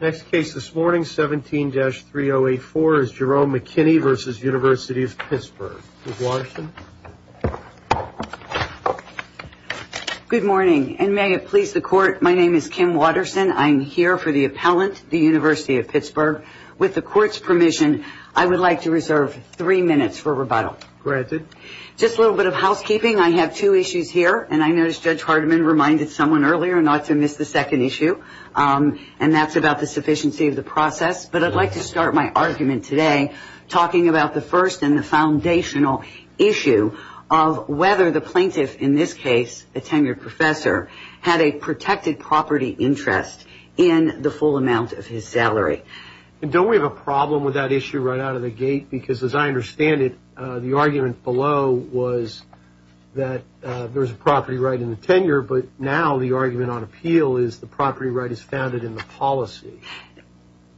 Next case this morning, 17-3084, is Jerome McKinney v. University of Pittsburgh. Ms. Watterson. Good morning, and may it please the court, my name is Kim Watterson. I'm here for the appellant, the University of Pittsburgh. With the court's permission, I would like to reserve three minutes for rebuttal. Granted. Just a little bit of housekeeping, I have two issues here, and I noticed Judge Hardiman reminded someone earlier not to miss the second issue, and that's about the sufficiency of the process. But I'd like to start my argument today talking about the first and the foundational issue of whether the plaintiff, in this case a tenured professor, had a protected property interest in the full amount of his salary. Don't we have a problem with that issue right out of the gate? Because as I understand it, the argument below was that there was a property right in the tenure, but now the argument on appeal is the property right is founded in the policy.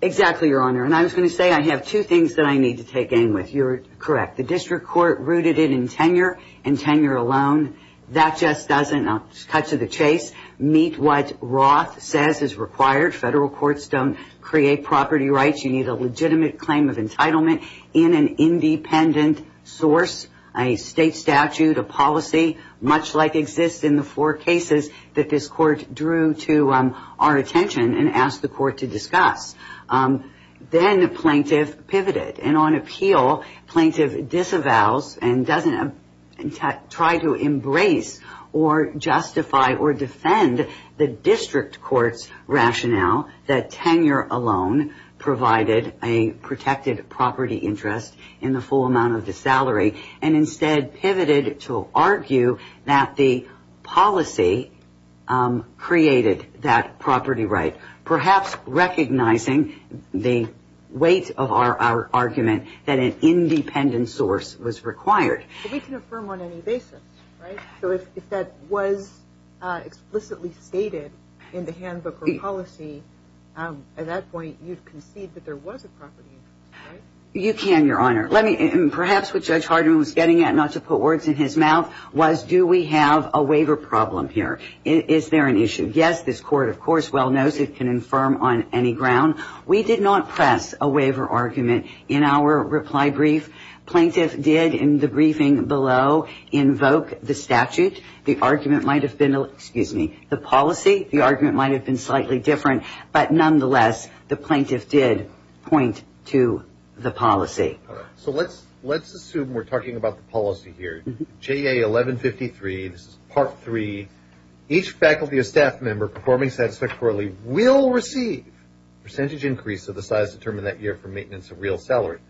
Exactly, Your Honor. And I was going to say I have two things that I need to take aim with. You're correct. The district court rooted it in tenure, and tenure alone, that just doesn't cut to the chase. Meet what Roth says is required. Federal courts don't create property rights. You need a legitimate claim of entitlement in an independent source, a state statute, a policy, much like exists in the four cases that this court drew to our attention and asked the court to discuss. Then the plaintiff pivoted. And on appeal, plaintiff disavows and doesn't try to embrace or justify or defend the district court's rationale that tenure alone provided a protected property interest in the full amount of the salary and instead pivoted to argue that the policy created that property right, perhaps recognizing the weight of our argument that an independent source was required. But we can affirm on any basis, right? So if that was explicitly stated in the handbook or policy, at that point you'd concede that there was a property interest, right? You can, Your Honor. Perhaps what Judge Harden was getting at, not to put words in his mouth, was do we have a waiver problem here? Is there an issue? Yes, this court, of course, well knows it can affirm on any ground. We did not press a waiver argument in our reply brief. Plaintiff did in the briefing below invoke the statute. The argument might have been, excuse me, the policy. The argument might have been slightly different. But nonetheless, the plaintiff did point to the policy. So let's assume we're talking about the policy here. JA 1153, this is Part 3. Each faculty or staff member performing satisfactorily will receive a percentage increase of the size determined that year for maintenance of real salary.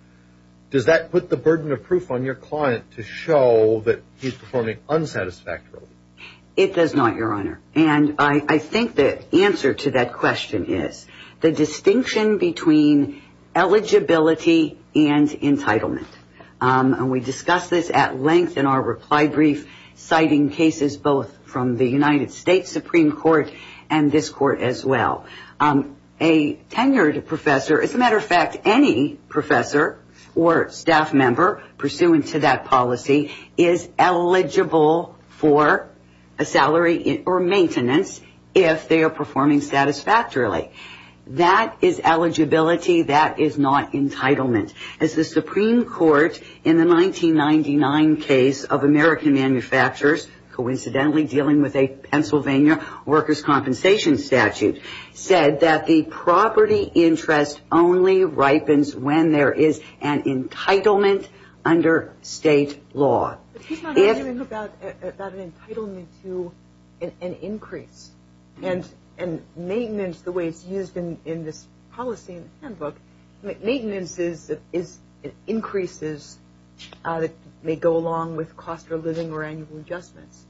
Does that put the burden of proof on your client to show that he's performing unsatisfactorily? It does not, Your Honor. And I think the answer to that question is the distinction between eligibility and entitlement. And we discussed this at length in our reply brief, citing cases both from the United States Supreme Court and this court as well. A tenured professor, as a matter of fact, any professor or staff member pursuant to that policy is eligible for a salary or maintenance if they are performing satisfactorily. That is eligibility. That is not entitlement. As the Supreme Court in the 1999 case of American manufacturers, coincidentally dealing with a Pennsylvania workers' compensation statute, said that the property interest only ripens when there is an entitlement under state law. But he's not arguing about an entitlement to an increase and maintenance the way it's used in this policy in the handbook. Maintenance is increases that may go along with cost of living or annual adjustments.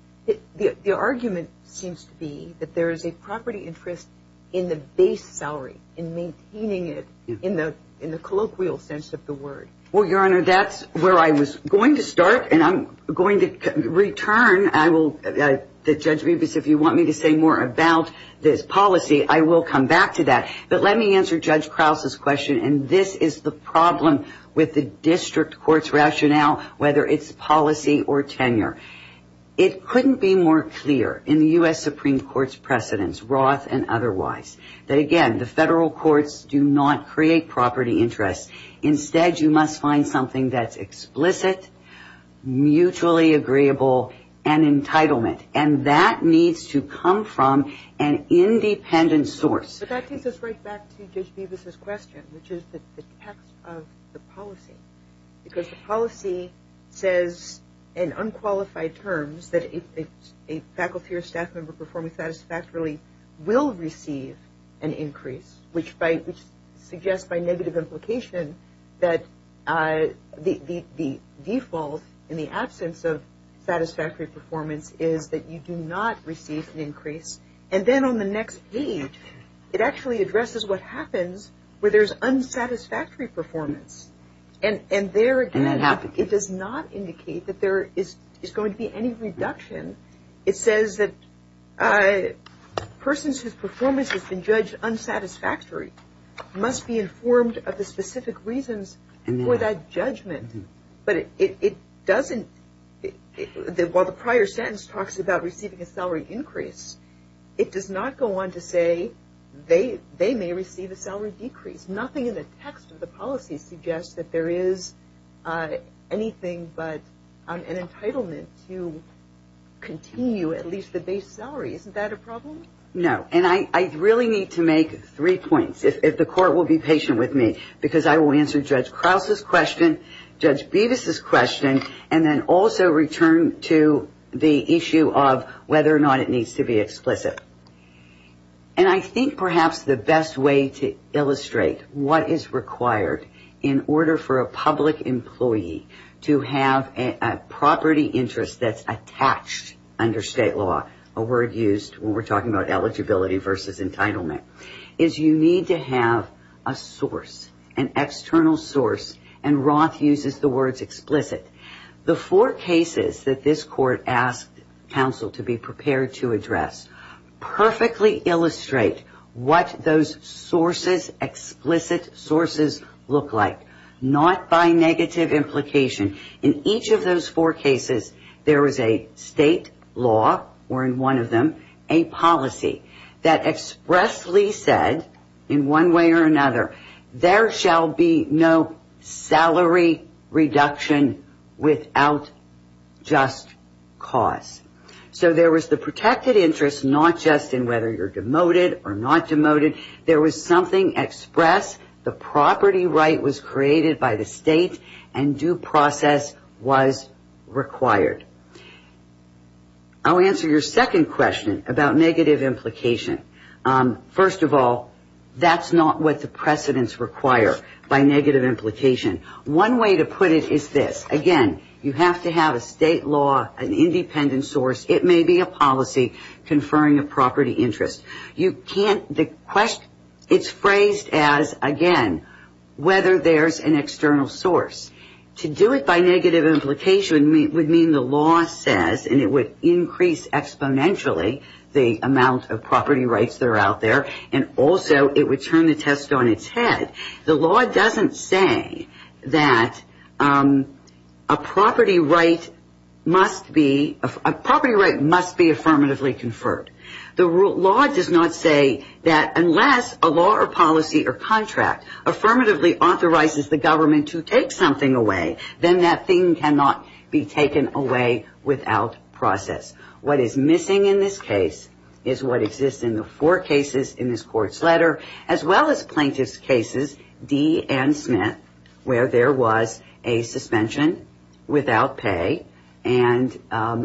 The argument seems to be that there is a property interest in the base salary, in maintaining it in the colloquial sense of the word. Well, Your Honor, that's where I was going to start and I'm going to return. I will. Judge Rubis, if you want me to say more about this policy, I will come back to that. But let me answer Judge Krause's question. And this is the problem with the district court's rationale, whether it's policy or tenure. It couldn't be more clear in the U.S. Supreme Court's precedents, Roth and otherwise, that, again, the federal courts do not create property interests. Instead, you must find something that's explicit, mutually agreeable, and entitlement. And that needs to come from an independent source. But that takes us right back to Judge Rubis's question, which is the text of the policy. Because the policy says in unqualified terms that a faculty or staff member performing satisfactorily will receive an increase, which suggests by negative implication that the default in the absence of satisfactory performance is that you do not receive an increase. And then on the next page, it actually addresses what happens where there's unsatisfactory performance. And there, again, it does not indicate that there is going to be any reduction. It says that persons whose performance has been judged unsatisfactory must be informed of the specific reasons for that judgment. But it doesn't – while the prior sentence talks about receiving a salary increase, it does not go on to say they may receive a salary decrease. It's nothing in the text of the policy suggests that there is anything but an entitlement to continue at least the base salary. Isn't that a problem? No. And I really need to make three points, if the Court will be patient with me, because I will answer Judge Krause's question, Judge Bevis's question, and then also return to the issue of whether or not it needs to be explicit. And I think perhaps the best way to illustrate what is required in order for a public employee to have a property interest that's attached under state law, a word used when we're talking about eligibility versus entitlement, is you need to have a source, an external source, and Roth uses the words explicit. The four cases that this Court asked counsel to be prepared to address perfectly illustrate what those sources, explicit sources, look like, not by negative implication. In each of those four cases, there is a state law, or in one of them, a policy, that expressly said, in one way or another, there shall be no salary reduction without just cause. So there was the protected interest not just in whether you're demoted or not demoted. There was something express. The property right was created by the state, and due process was required. I'll answer your second question about negative implication. First of all, that's not what the precedents require by negative implication. One way to put it is this. Again, you have to have a state law, an independent source. It may be a policy conferring a property interest. You can't, the question, it's phrased as, again, whether there's an external source. To do it by negative implication would mean the law says, and it would increase exponentially the amount of property rights that are out there, and also it would turn the test on its head. The law doesn't say that a property right must be affirmatively conferred. The law does not say that unless a law or policy or contract affirmatively authorizes the government to take something away, then that thing cannot be taken away without process. What is missing in this case is what exists in the four cases in this court's letter, as well as plaintiff's cases, Dee and Smith, where there was a suspension without pay, and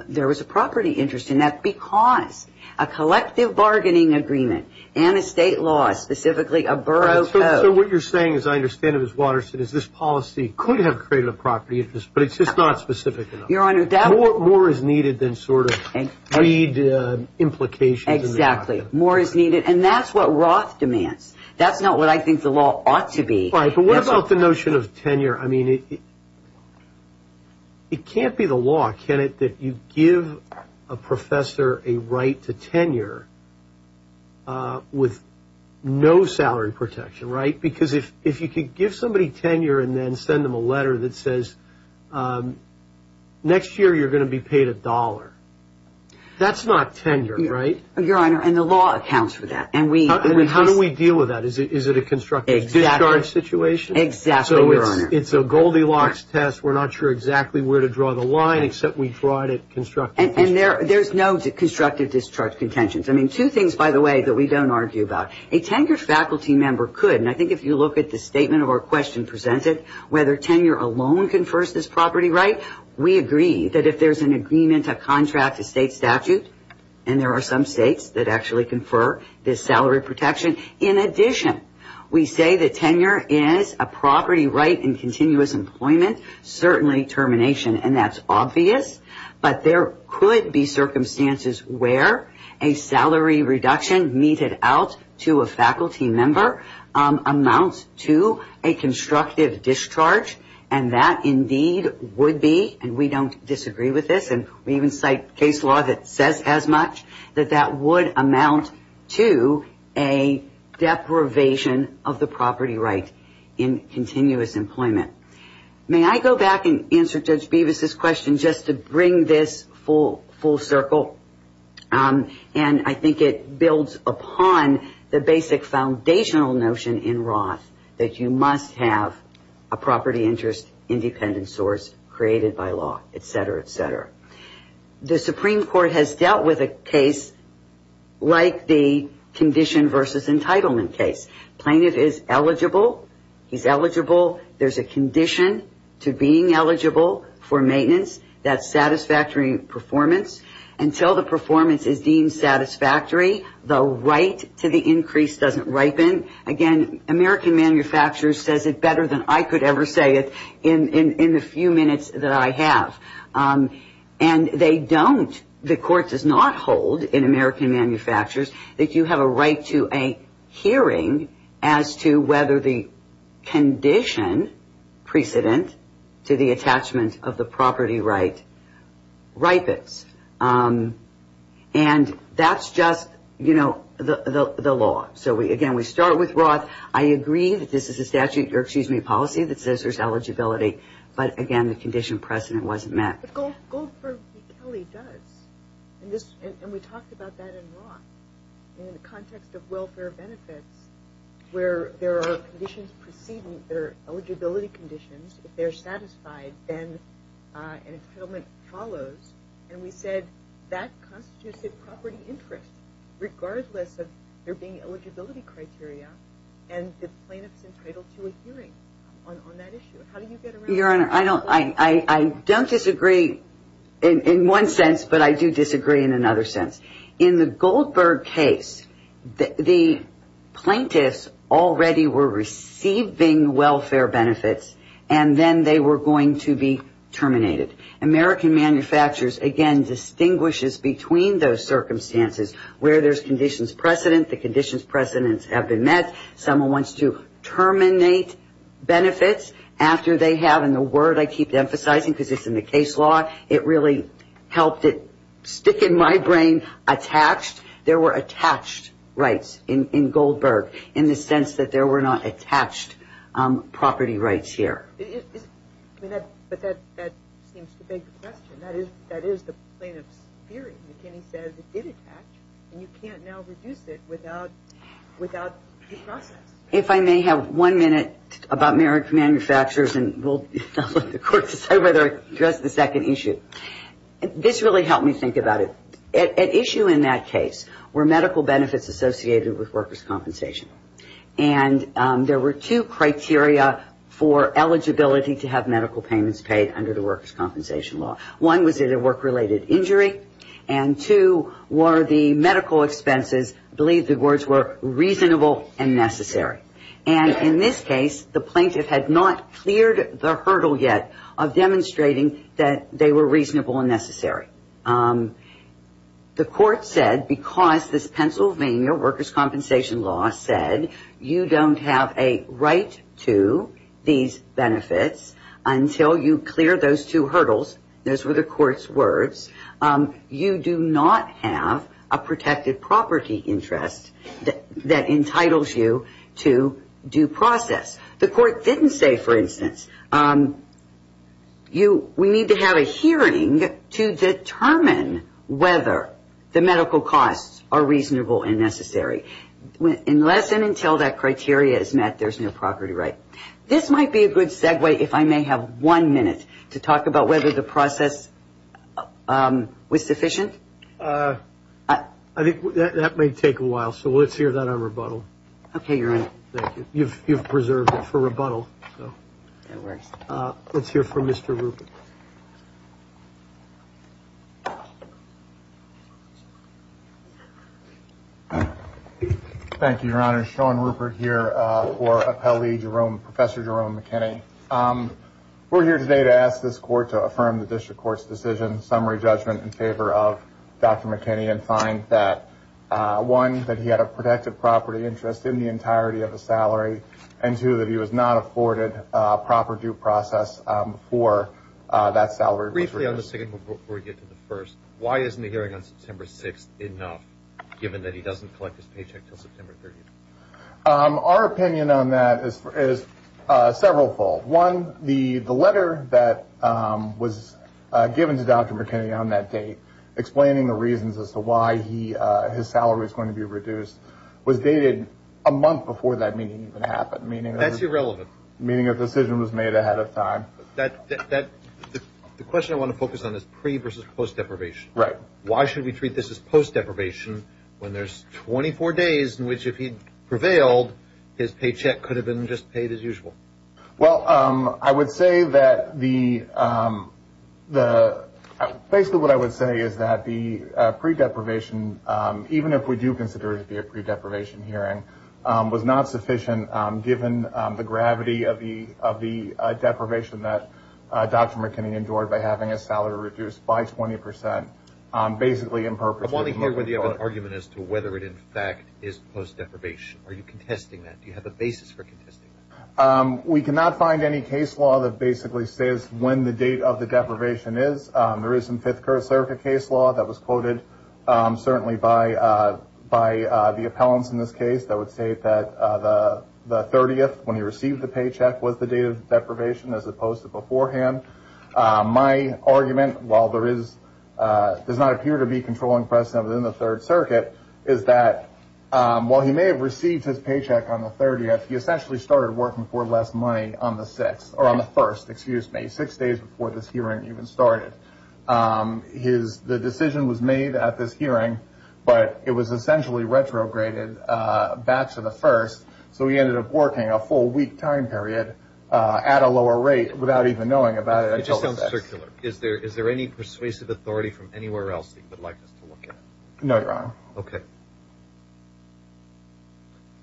there was a property interest in that because a collective bargaining agreement and a state law, specifically a borough code. So what you're saying, as I understand it, Ms. Watterson, is this policy could have created a property interest, but it's just not specific enough. Your Honor, that was – More is needed than sort of greed implications. Exactly. More is needed, and that's what Roth demands. That's not what I think the law ought to be. Right, but what about the notion of tenure? I mean, it can't be the law, can it, that you give a professor a right to tenure with no salary protection, right? Because if you could give somebody tenure and then send them a letter that says, next year you're going to be paid a dollar, that's not tenure, right? Your Honor, and the law accounts for that. And how do we deal with that? Is it a constructive discharge situation? Exactly, Your Honor. It's a Goldilocks test. We're not sure exactly where to draw the line except we draw it at constructive discharge. And there's no constructive discharge contentions. I mean, two things, by the way, that we don't argue about. A tenured faculty member could, and I think if you look at the statement of our question presented, whether tenure alone confers this property right, we agree that if there's an agreement, a contract, a state statute, and there are some states that actually confer this salary protection. In addition, we say that tenure is a property right in continuous employment, certainly termination. And that's obvious. But there could be circumstances where a salary reduction meted out to a faculty member amounts to a constructive discharge. And that indeed would be, and we don't disagree with this, and we even cite case law that says as much, that that would amount to a deprivation of the property right in continuous employment. May I go back and answer Judge Bevis' question just to bring this full circle? And I think it builds upon the basic foundational notion in Roth that you must have a property interest independent source created by law, et cetera, et cetera. The Supreme Court has dealt with a case like the condition versus entitlement case. Plaintiff is eligible. He's eligible. There's a condition to being eligible for maintenance. That's satisfactory performance. Until the performance is deemed satisfactory, the right to the increase doesn't ripen. Again, American Manufacturers says it better than I could ever say it in the few minutes that I have. And they don't, the court does not hold in American Manufacturers that you have a right to a hearing as to whether the condition precedent to the attachment of the property right ripens. And that's just, you know, the law. So, again, we start with Roth. I agree that this is a statute, or excuse me, policy that says there's eligibility. But, again, the condition precedent wasn't met. But Goldberg v. Kelly does. And we talked about that in Roth in the context of welfare benefits where there are conditions preceding their eligibility conditions. If they're satisfied, then an entitlement follows. And we said that constitutes a property interest regardless of there being eligibility criteria and the plaintiff's entitled to a hearing on that issue. How do you get around that? Your Honor, I don't disagree in one sense, but I do disagree in another sense. In the Goldberg case, the plaintiffs already were receiving welfare benefits, and then they were going to be terminated. American Manufacturers, again, distinguishes between those circumstances. Where there's conditions precedent, the conditions precedents have been met. Someone wants to terminate benefits after they have. And the word I keep emphasizing, because it's in the case law, it really helped it stick in my brain, attached. There were attached rights in Goldberg in the sense that there were not attached property rights here. But that seems to beg the question. That is the plaintiff's theory. McKinney says it did attach, and you can't now reduce it without the process. If I may have one minute about American Manufacturers, and I'll let the Court decide whether I address the second issue. This really helped me think about it. At issue in that case were medical benefits associated with workers' compensation. And there were two criteria for eligibility to have medical payments paid under the workers' compensation law. One was it a work-related injury, and two were the medical expenses, I believe the words were reasonable and necessary. And in this case, the plaintiff had not cleared the hurdle yet of demonstrating that they were reasonable and necessary. The Court said because this Pennsylvania workers' compensation law said you don't have a right to these benefits until you clear those two hurdles. Those were the Court's words. You do not have a protected property interest that entitles you to due process. The Court didn't say, for instance, we need to have a hearing to determine whether the medical costs are reasonable and necessary. Unless and until that criteria is met, there's no property right. This might be a good segue if I may have one minute to talk about whether the process was sufficient. I think that may take a while, so let's hear that on rebuttal. Okay, Your Honor. Thank you. You've preserved it for rebuttal. Let's hear from Mr. Rupert. Thank you, Your Honor. Sean Rupert here for Appellee Jerome, Professor Jerome McKinney. We're here today to ask this Court to affirm the District Court's decision summary judgment in favor of Dr. McKinney and find that, one, that he had a protected property interest in the entirety of the salary, and two, that he was not afforded proper due process for that salary. Briefly on the second before we get to the first, why isn't the hearing on September 6th enough given that he doesn't collect his paycheck until September 30th? Our opinion on that is severalfold. One, the letter that was given to Dr. McKinney on that date explaining the reasons as to why his salary was going to be reduced was dated a month before that meeting even happened. That's irrelevant. Meaning a decision was made ahead of time. The question I want to focus on is pre- versus post-deprivation. Why should we treat this as post-deprivation when there's 24 days in which if he prevailed, his paycheck could have been just paid as usual? Well, I would say that the – basically what I would say is that the pre-deprivation, even if we do consider it to be a pre-deprivation hearing, was not sufficient given the gravity of the deprivation that Dr. McKinney endured by having his salary reduced by 20 percent basically in purpose. I want to hear whether you have an argument as to whether it, in fact, is post-deprivation. Are you contesting that? Do you have a basis for contesting that? We cannot find any case law that basically says when the date of the deprivation is. There is some Fifth Circuit case law that was quoted certainly by the appellants in this case that would state that the 30th when he received the paycheck was the date of deprivation as opposed to beforehand. My argument, while there is – does not appear to be controlling precedent within the Third Circuit, is that while he may have received his paycheck on the 30th, he essentially started working for less money on the 6th – or on the 1st, excuse me, six days before this hearing even started. The decision was made at this hearing, but it was essentially retrograded back to the 1st, so he ended up working a full week time period at a lower rate without even knowing about it until the 6th. It just sounds circular. Is there any persuasive authority from anywhere else that you would like us to look at? No, Your Honor. Okay.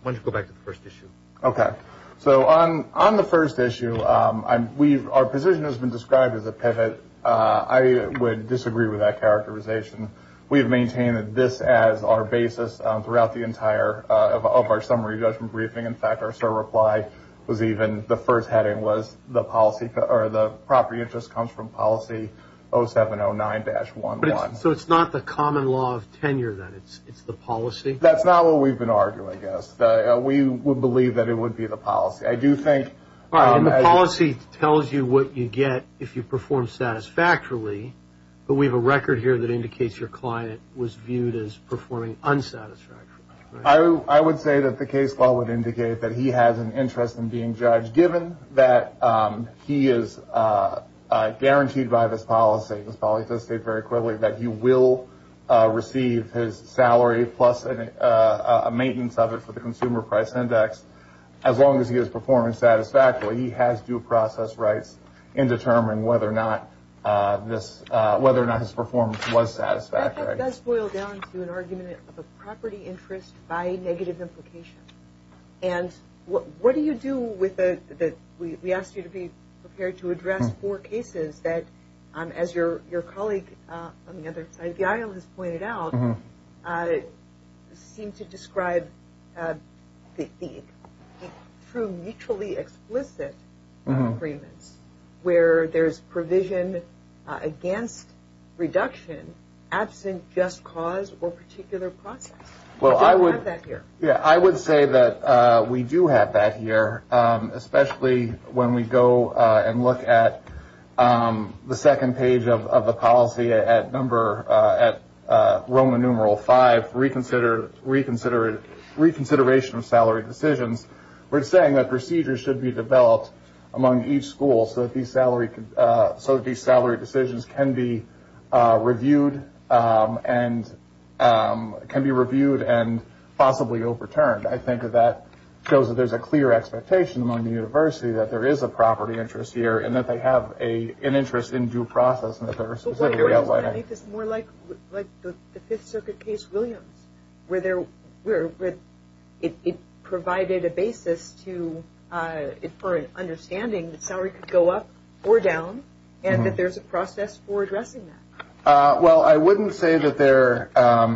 Why don't you go back to the first issue. Okay. So on the first issue, our position has been described as a pivot. I would disagree with that characterization. We have maintained this as our basis throughout the entire of our summary judgment briefing. In fact, our SOAR reply was even – the first heading was the property interest comes from policy 0709-11. So it's not the common law of tenure, then? It's the policy? That's not what we've been arguing, I guess. We would believe that it would be the policy. I do think – All right, and the policy tells you what you get if you perform satisfactorily, but we have a record here that indicates your client was viewed as performing unsatisfactorily. I would say that the case law would indicate that he has an interest in being judged, given that he is guaranteed by this policy – this policy does state very clearly that he will receive his salary plus a maintenance of it for the consumer price index as long as he is performing satisfactorily. He has due process rights in determining whether or not this – whether or not his performance was satisfactory. That does boil down to an argument of a property interest by negative implication. And what do you do with the – we asked you to be prepared to address four cases that, as your colleague on the other side of the aisle has pointed out, seem to describe the true mutually explicit agreements, where there's provision against reduction absent just cause or particular process. Well, I would – We don't have that here. Yeah, I would say that we do have that here, especially when we go and look at the second page of the policy at number – at Roman numeral five, reconsideration of salary decisions. We're saying that procedures should be developed among each school so that these salary – possibly overturned. I think that that shows that there's a clear expectation among the university that there is a property interest here and that they have an interest in due process and that there are specific areas like that. But wait a minute. I think it's more like the Fifth Circuit case, Williams, where there – where it provided a basis to – for an understanding that salary could go up or down and that there's a process for addressing that. Well, I wouldn't say that there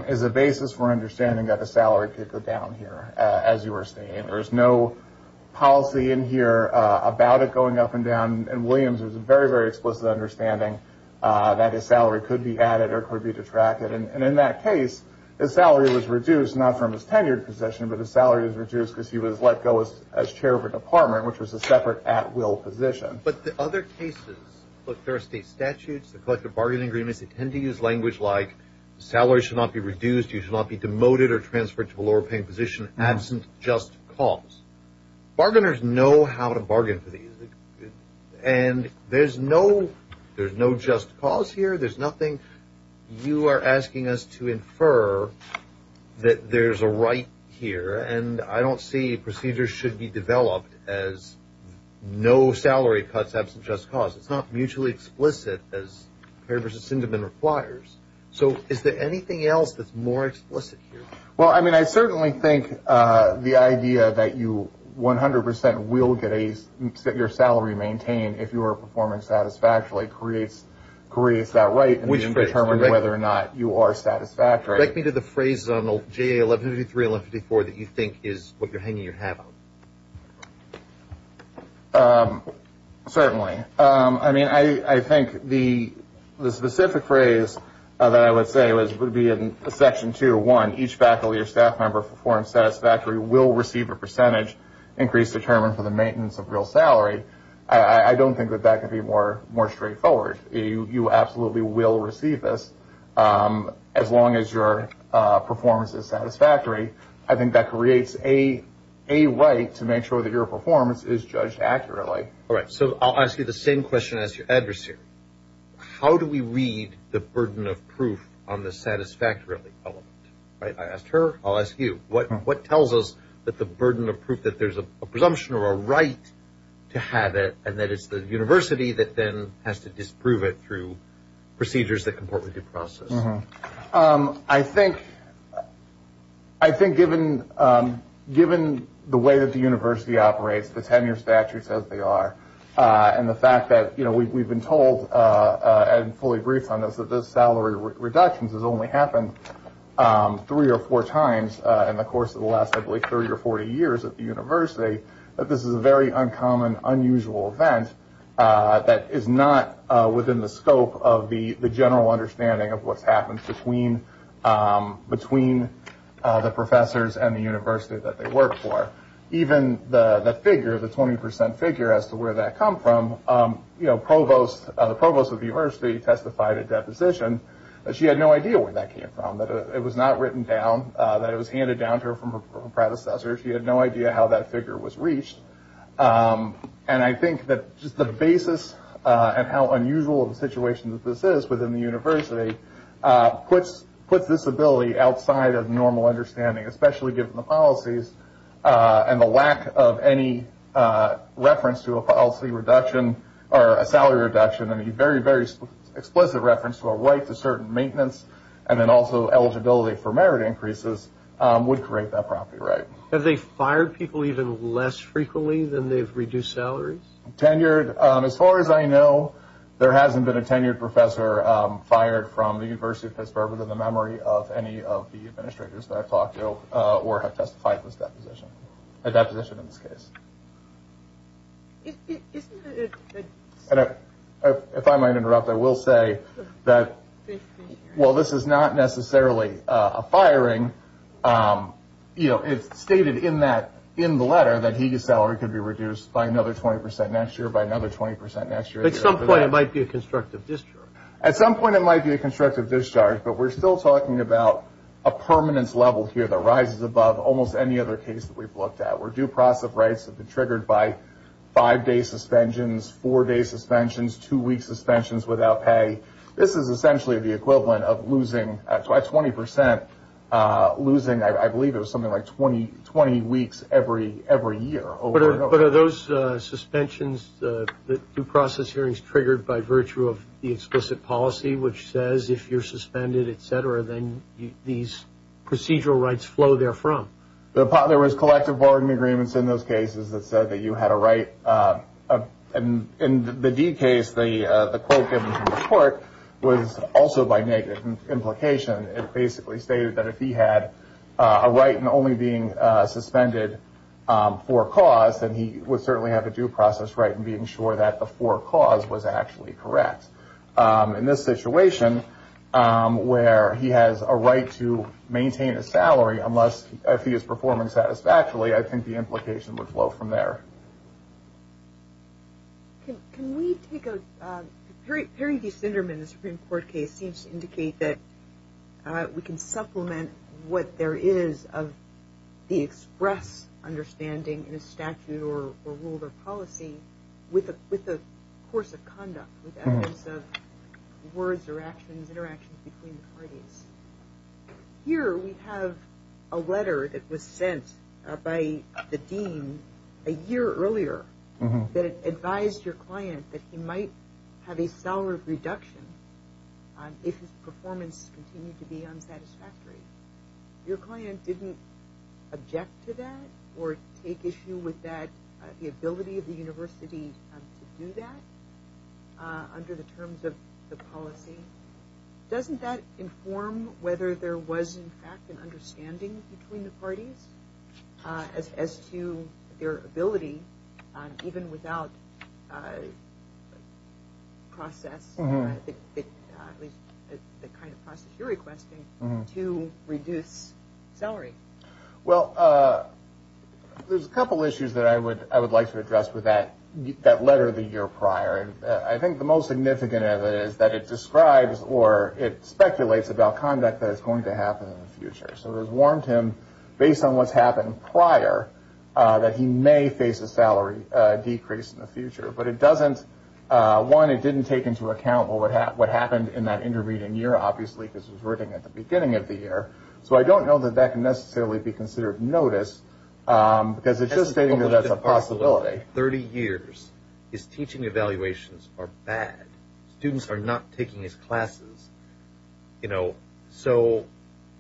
is a basis for understanding that a salary could go down here, as you were saying. There's no policy in here about it going up and down, and Williams was very, very explicit in understanding that a salary could be added or could be detracted. And in that case, his salary was reduced, not from his tenured position, but his salary was reduced because he was let go as chair of a department, which was a separate at-will position. But the other cases – look, there are state statutes, there are collective bargaining agreements that tend to use language like salary should not be reduced, you should not be demoted or transferred to a lower-paying position absent just cause. Bargainers know how to bargain for these. And there's no just cause here. There's nothing – you are asking us to infer that there's a right here, and I don't see procedures should be developed as no salary cuts absent just cause. It's not mutually explicit as Kerr v. Sindeman requires. So is there anything else that's more explicit here? Well, I mean, I certainly think the idea that you 100% will get a – your salary maintained if you are performing satisfactorily creates that right in the interest of determining whether or not you are satisfactory. Take me to the phrase on JA 1153, 1154 that you think is what you're hanging your hat on. Certainly. I mean, I think the specific phrase that I would say would be in Section 201, each faculty or staff member who performs satisfactorily will receive a percentage increase determined for the maintenance of real salary. I don't think that that could be more straightforward. You absolutely will receive this as long as your performance is satisfactory. I think that creates a right to make sure that your performance is judged accurately. All right. So I'll ask you the same question as your adversary. How do we read the burden of proof on the satisfactorily element? I asked her. I'll ask you. What tells us that the burden of proof that there's a presumption or a right to have it and that it's the university that then has to disprove it through procedures that comport with due process? I think given the way that the university operates, the tenure statutes as they are, and the fact that, you know, we've been told and fully briefed on this, that this salary reduction has only happened three or four times in the course of the last, I believe, 30 or 40 years at the university, that this is a very uncommon, unusual event that is not within the scope of the general understanding of what's happened between the professors and the university that they work for. Even the figure, the 20% figure as to where that come from, you know, the provost of the university testified at deposition that she had no idea where that came from, that it was not written down, that it was handed down to her from her predecessors. She had no idea how that figure was reached. And I think that just the basis and how unusual the situation that this is within the university puts this ability outside of normal understanding, especially given the policies and the lack of any reference to a policy reduction or a salary reduction, and a very, very explicit reference to a right to certain maintenance, and then also eligibility for merit increases would create that property right. Have they fired people even less frequently than they've reduced salaries? Tenured, as far as I know, there hasn't been a tenured professor fired from the University of Pittsburgh within the memory of any of the administrators that I've talked to or have testified at this deposition, at deposition in this case. If I might interrupt, I will say that while this is not necessarily a firing, you know, it's stated in the letter that Higa's salary could be reduced by another 20% next year, by another 20% next year. At some point it might be a constructive discharge. At some point it might be a constructive discharge, but we're still talking about a permanence level here that rises above almost any other case that we've looked at. Or due process rights have been triggered by five-day suspensions, four-day suspensions, two-week suspensions without pay. This is essentially the equivalent of losing by 20%, losing I believe it was something like 20 weeks every year. But are those suspensions, due process hearings triggered by virtue of the explicit policy, which says if you're suspended, et cetera, then these procedural rights flow there from? There was collective bargaining agreements in those cases that said that you had a right. In the D case, the quote given to the court was also by negative implication. It basically stated that if he had a right in only being suspended for a cause, then he would certainly have a due process right in being sure that the for cause was actually correct. In this situation where he has a right to maintain a salary, unless I see his performance satisfactorily, I think the implication would flow from there. Can we take a – Perry v. Sinderman, the Supreme Court case, seems to indicate that we can supplement what there is of the express understanding in a statute or rule or policy with a course of conduct, with evidence of words or actions, interactions between the parties. Here we have a letter that was sent by the dean a year earlier that advised your client that he might have a salary reduction if his performance continued to be unsatisfactory. Your client didn't object to that or take issue with that, the ability of the university to do that under the terms of the policy. Doesn't that inform whether there was in fact an understanding between the parties as to their ability, even without process, the kind of process you're requesting, to reduce salary? Well, there's a couple issues that I would like to address with that letter the year prior. I think the most significant of it is that it describes or it speculates about conduct that is going to happen in the future. So it has warned him, based on what's happened prior, that he may face a salary decrease in the future. But it doesn't – one, it didn't take into account what happened in that intermediate year, obviously, because he was working at the beginning of the year. So I don't know that that can necessarily be considered notice, because it's just stating that that's a possibility. 30 years, his teaching evaluations are bad. Students are not taking his classes. So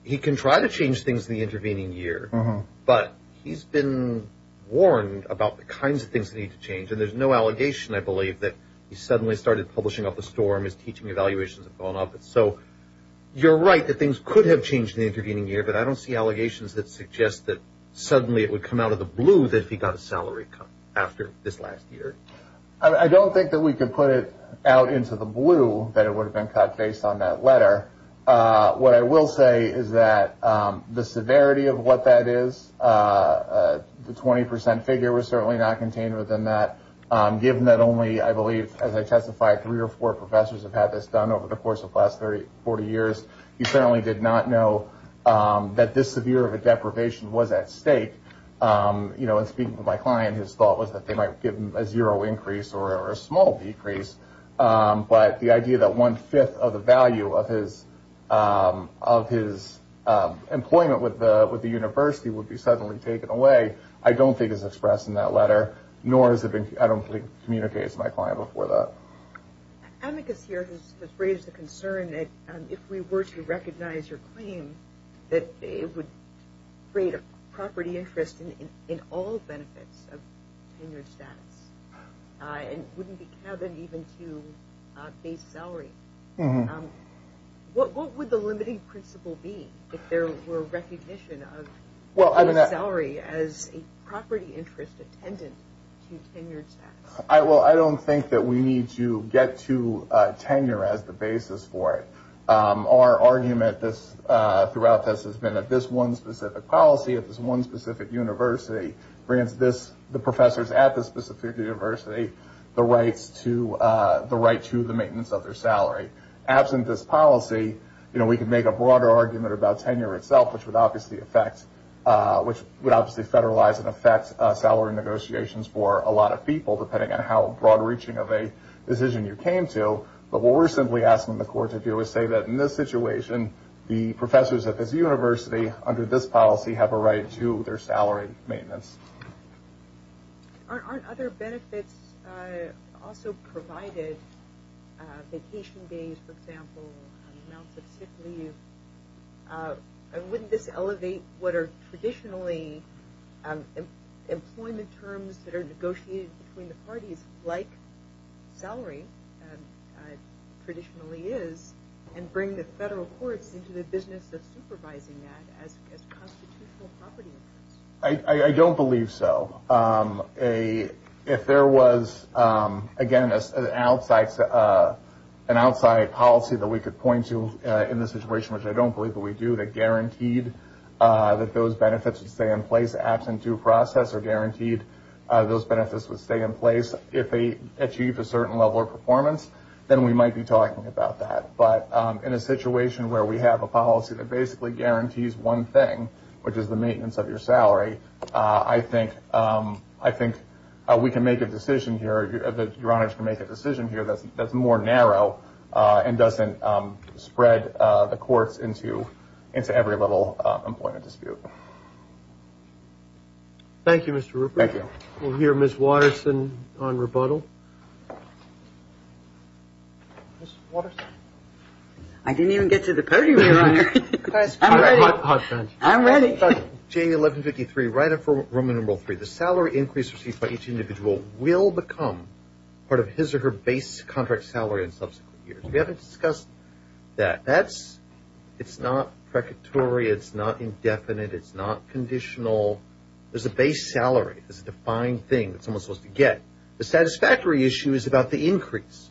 he can try to change things in the intervening year, but he's been warned about the kinds of things that need to change. And there's no allegation, I believe, that he suddenly started publishing up a storm. His teaching evaluations have gone up. So you're right that things could have changed in the intervening year, but I don't see allegations that suggest that suddenly it would come out of the blue that he got a salary cut after this last year. I don't think that we can put it out into the blue that it would have been cut based on that letter. What I will say is that the severity of what that is, the 20 percent figure was certainly not contained within that, given that only, I believe, as I testified, three or four professors have had this done over the course of the last 30, 40 years. He certainly did not know that this severe of a deprivation was at stake. And speaking to my client, his thought was that they might give him a zero increase or a small decrease. But the idea that one fifth of the value of his employment with the university would be suddenly taken away, I don't think is expressed in that letter, nor has it been communicated to my client before that. Amicus here has raised the concern that if we were to recognize your claim, that it would create a property interest in all benefits of tenured status and wouldn't be cabin even to base salary. What would the limiting principle be if there were recognition of salary as a property interest attendant to tenured status? Well, I don't think that we need to get to tenure as the basis for it. Our argument throughout this has been that this one specific policy, this one specific university grants the professors at this specific university the right to the maintenance of their salary. Absent this policy, we could make a broader argument about tenure itself, which would obviously federalize and affect salary negotiations for a lot of people, depending on how broad reaching of a decision you came to. But what we're simply asking the court to do is say that in this situation, the professors at this university under this policy have a right to their salary maintenance. Aren't other benefits also provided? Vacation days, for example, amounts of sick leave. Wouldn't this elevate what are traditionally employment terms that are negotiated between the parties, like salary traditionally is, and bring the federal courts into the business of supervising that as constitutional property? I don't believe so. If there was, again, an outside policy that we could point to in this situation, which I don't believe that we do that guaranteed that those benefits would stay in place absent due process or guaranteed those benefits would stay in place if they achieved a certain level of performance, then we might be talking about that. But in a situation where we have a policy that basically guarantees one thing, which is the maintenance of your salary, I think we can make a decision here, that your honors can make a decision here that's more narrow and doesn't spread the courts into every little employment dispute. Thank you, Mr. Rupert. Thank you. We'll hear Ms. Waterson on rebuttal. Ms. Waterson. I didn't even get to the podium, Your Honor. I'm ready. I'm ready. J1153, right up for room number three. The salary increase received by each individual will become part of his or her base contract salary in subsequent years. We haven't discussed that. It's not precatory. It's not indefinite. It's not conditional. There's a base salary. It's a defined thing that someone's supposed to get. The satisfactory issue is about the increase.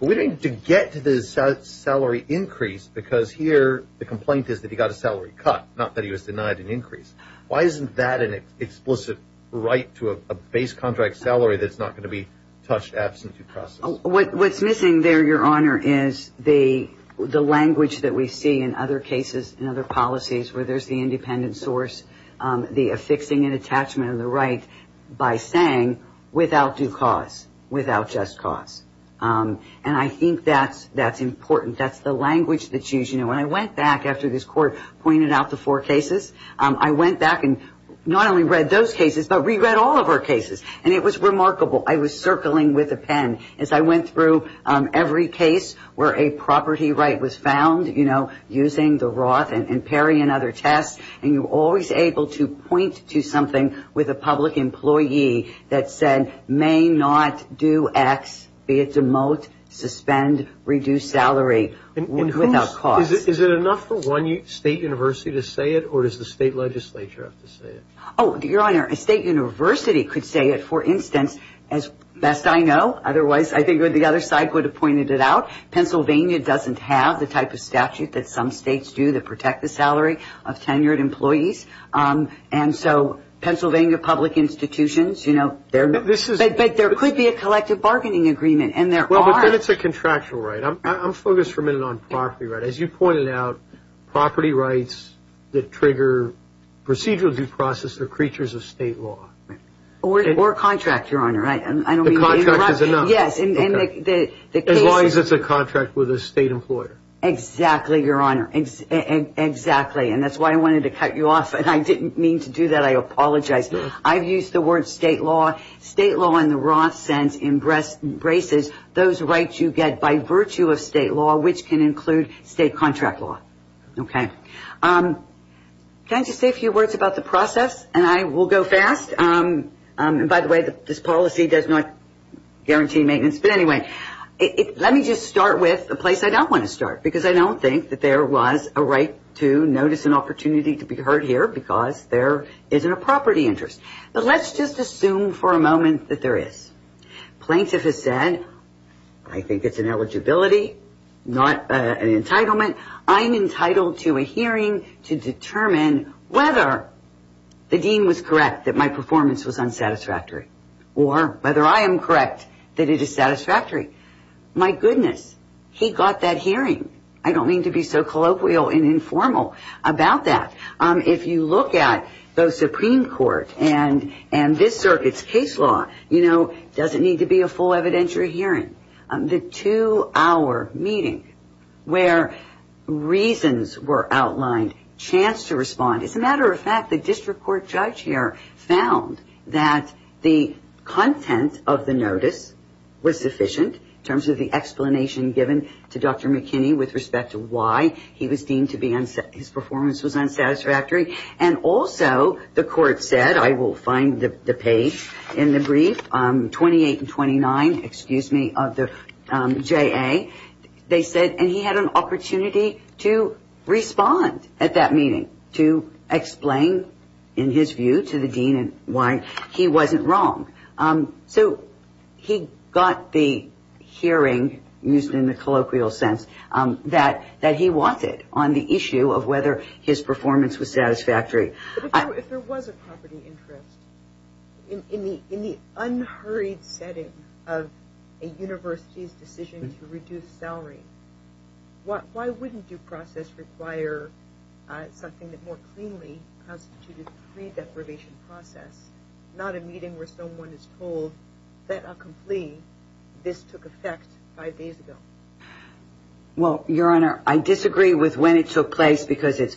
We didn't get to the salary increase because here the complaint is that he got a salary cut, not that he was denied an increase. Why isn't that an explicit right to a base contract salary that's not going to be touched absent due process? What's missing there, Your Honor, is the language that we see in other cases and other policies where there's the independent source, the affixing and attachment of the right, by saying without due cause, without just cause. And I think that's important. That's the language that's used. You know, when I went back after this Court pointed out the four cases, I went back and not only read those cases, but reread all of our cases. And it was remarkable. I was circling with a pen as I went through every case where a property right was found, you know, using the Roth and Perry and other tests, and you're always able to point to something with a public employee that said may not do X, be it demote, suspend, reduce salary without cause. Is it enough for one state university to say it, or does the state legislature have to say it? Oh, Your Honor, a state university could say it, for instance, as best I know. Otherwise, I think the other side could have pointed it out. Pennsylvania doesn't have the type of statute that some states do that protect the salary of tenured employees. And so Pennsylvania public institutions, you know, there could be a collective bargaining agreement. And there are. Well, but then it's a contractual right. I'm focused for a minute on property rights. As you pointed out, property rights that trigger procedural due process are creatures of state law. Or a contract, Your Honor. The contract is enough. Yes. As long as it's a contract with a state employer. Exactly, Your Honor. Exactly. And that's why I wanted to cut you off, and I didn't mean to do that. I apologize. I've used the word state law. State law in the Roth sense embraces those rights you get by virtue of state law, which can include state contract law. Okay. Can I just say a few words about the process? And I will go fast. By the way, this policy does not guarantee maintenance. But anyway, let me just start with a place I don't want to start because I don't think that there was a right to notice an opportunity to be heard here because there isn't a property interest. But let's just assume for a moment that there is. Plaintiff has said, I think it's an eligibility, not an entitlement. I'm entitled to a hearing to determine whether the dean was correct that my performance was unsatisfactory or whether I am correct that it is satisfactory. My goodness, he got that hearing. I don't mean to be so colloquial and informal about that. If you look at the Supreme Court and this circuit's case law, you know, it doesn't need to be a full evidentiary hearing. The two-hour meeting where reasons were outlined, chance to respond. As a matter of fact, the district court judge here found that the content of the notice was sufficient in terms of the explanation given to Dr. McKinney with respect to why he was deemed to be unsatisfactory, his performance was unsatisfactory. And also the court said, I will find the page in the brief, 28 and 29, excuse me, of the JA. They said, and he had an opportunity to respond at that meeting to explain in his view to the dean why he wasn't wrong. So he got the hearing used in the colloquial sense that he wanted on the issue of whether his performance was satisfactory. If there was a property interest in the unhurried setting of a university's decision to reduce salary, why wouldn't due process require something that more cleanly constituted pre-deprivation process, not a meeting where someone is told, that I'll complete, this took effect five days ago? Well, Your Honor, I disagree with when it took place because it's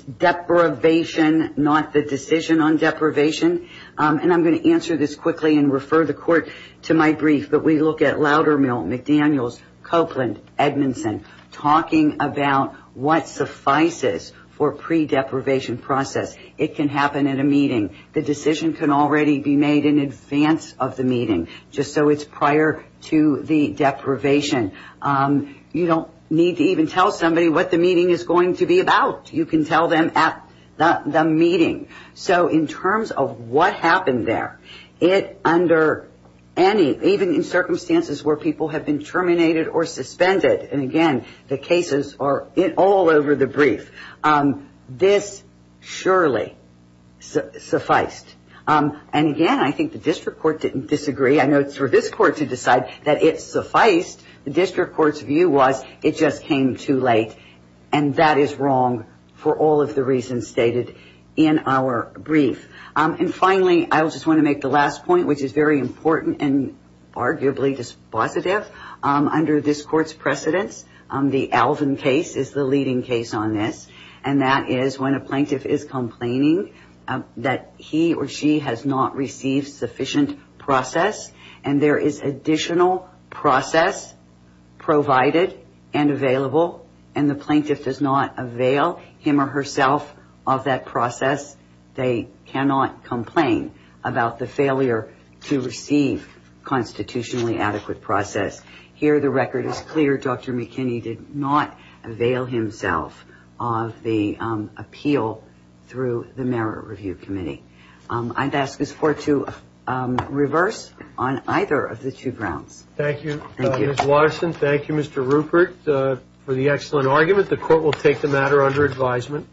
deprivation, not the decision on deprivation. And I'm going to answer this quickly and refer the court to my brief. But we look at Loudermill, McDaniels, Copeland, Edmondson, talking about what suffices for pre-deprivation process. It can happen at a meeting. The decision can already be made in advance of the meeting just so it's prior to the deprivation. You don't need to even tell somebody what the meeting is going to be about. You can tell them at the meeting. So in terms of what happened there, it under any, even in circumstances where people have been terminated or suspended, and again, the cases are all over the brief. This surely sufficed. And again, I think the district court didn't disagree. I know it's for this court to decide that it sufficed. The district court's view was it just came too late. And that is wrong for all of the reasons stated in our brief. And finally, I just want to make the last point, which is very important and arguably dispositive. Under this court's precedence, the Alvin case is the leading case on this. And that is when a plaintiff is complaining that he or she has not received sufficient process, and there is additional process provided and available, and the plaintiff does not avail him or herself of that process, they cannot complain about the failure to receive constitutionally adequate process. Here, the record is clear. Dr. McKinney did not avail himself of the appeal through the Merit Review Committee. I'd ask this court to reverse on either of the two grounds. Thank you, Ms. Watterson. Thank you, Mr. Rupert, for the excellent argument. The court will take the matter under advisement.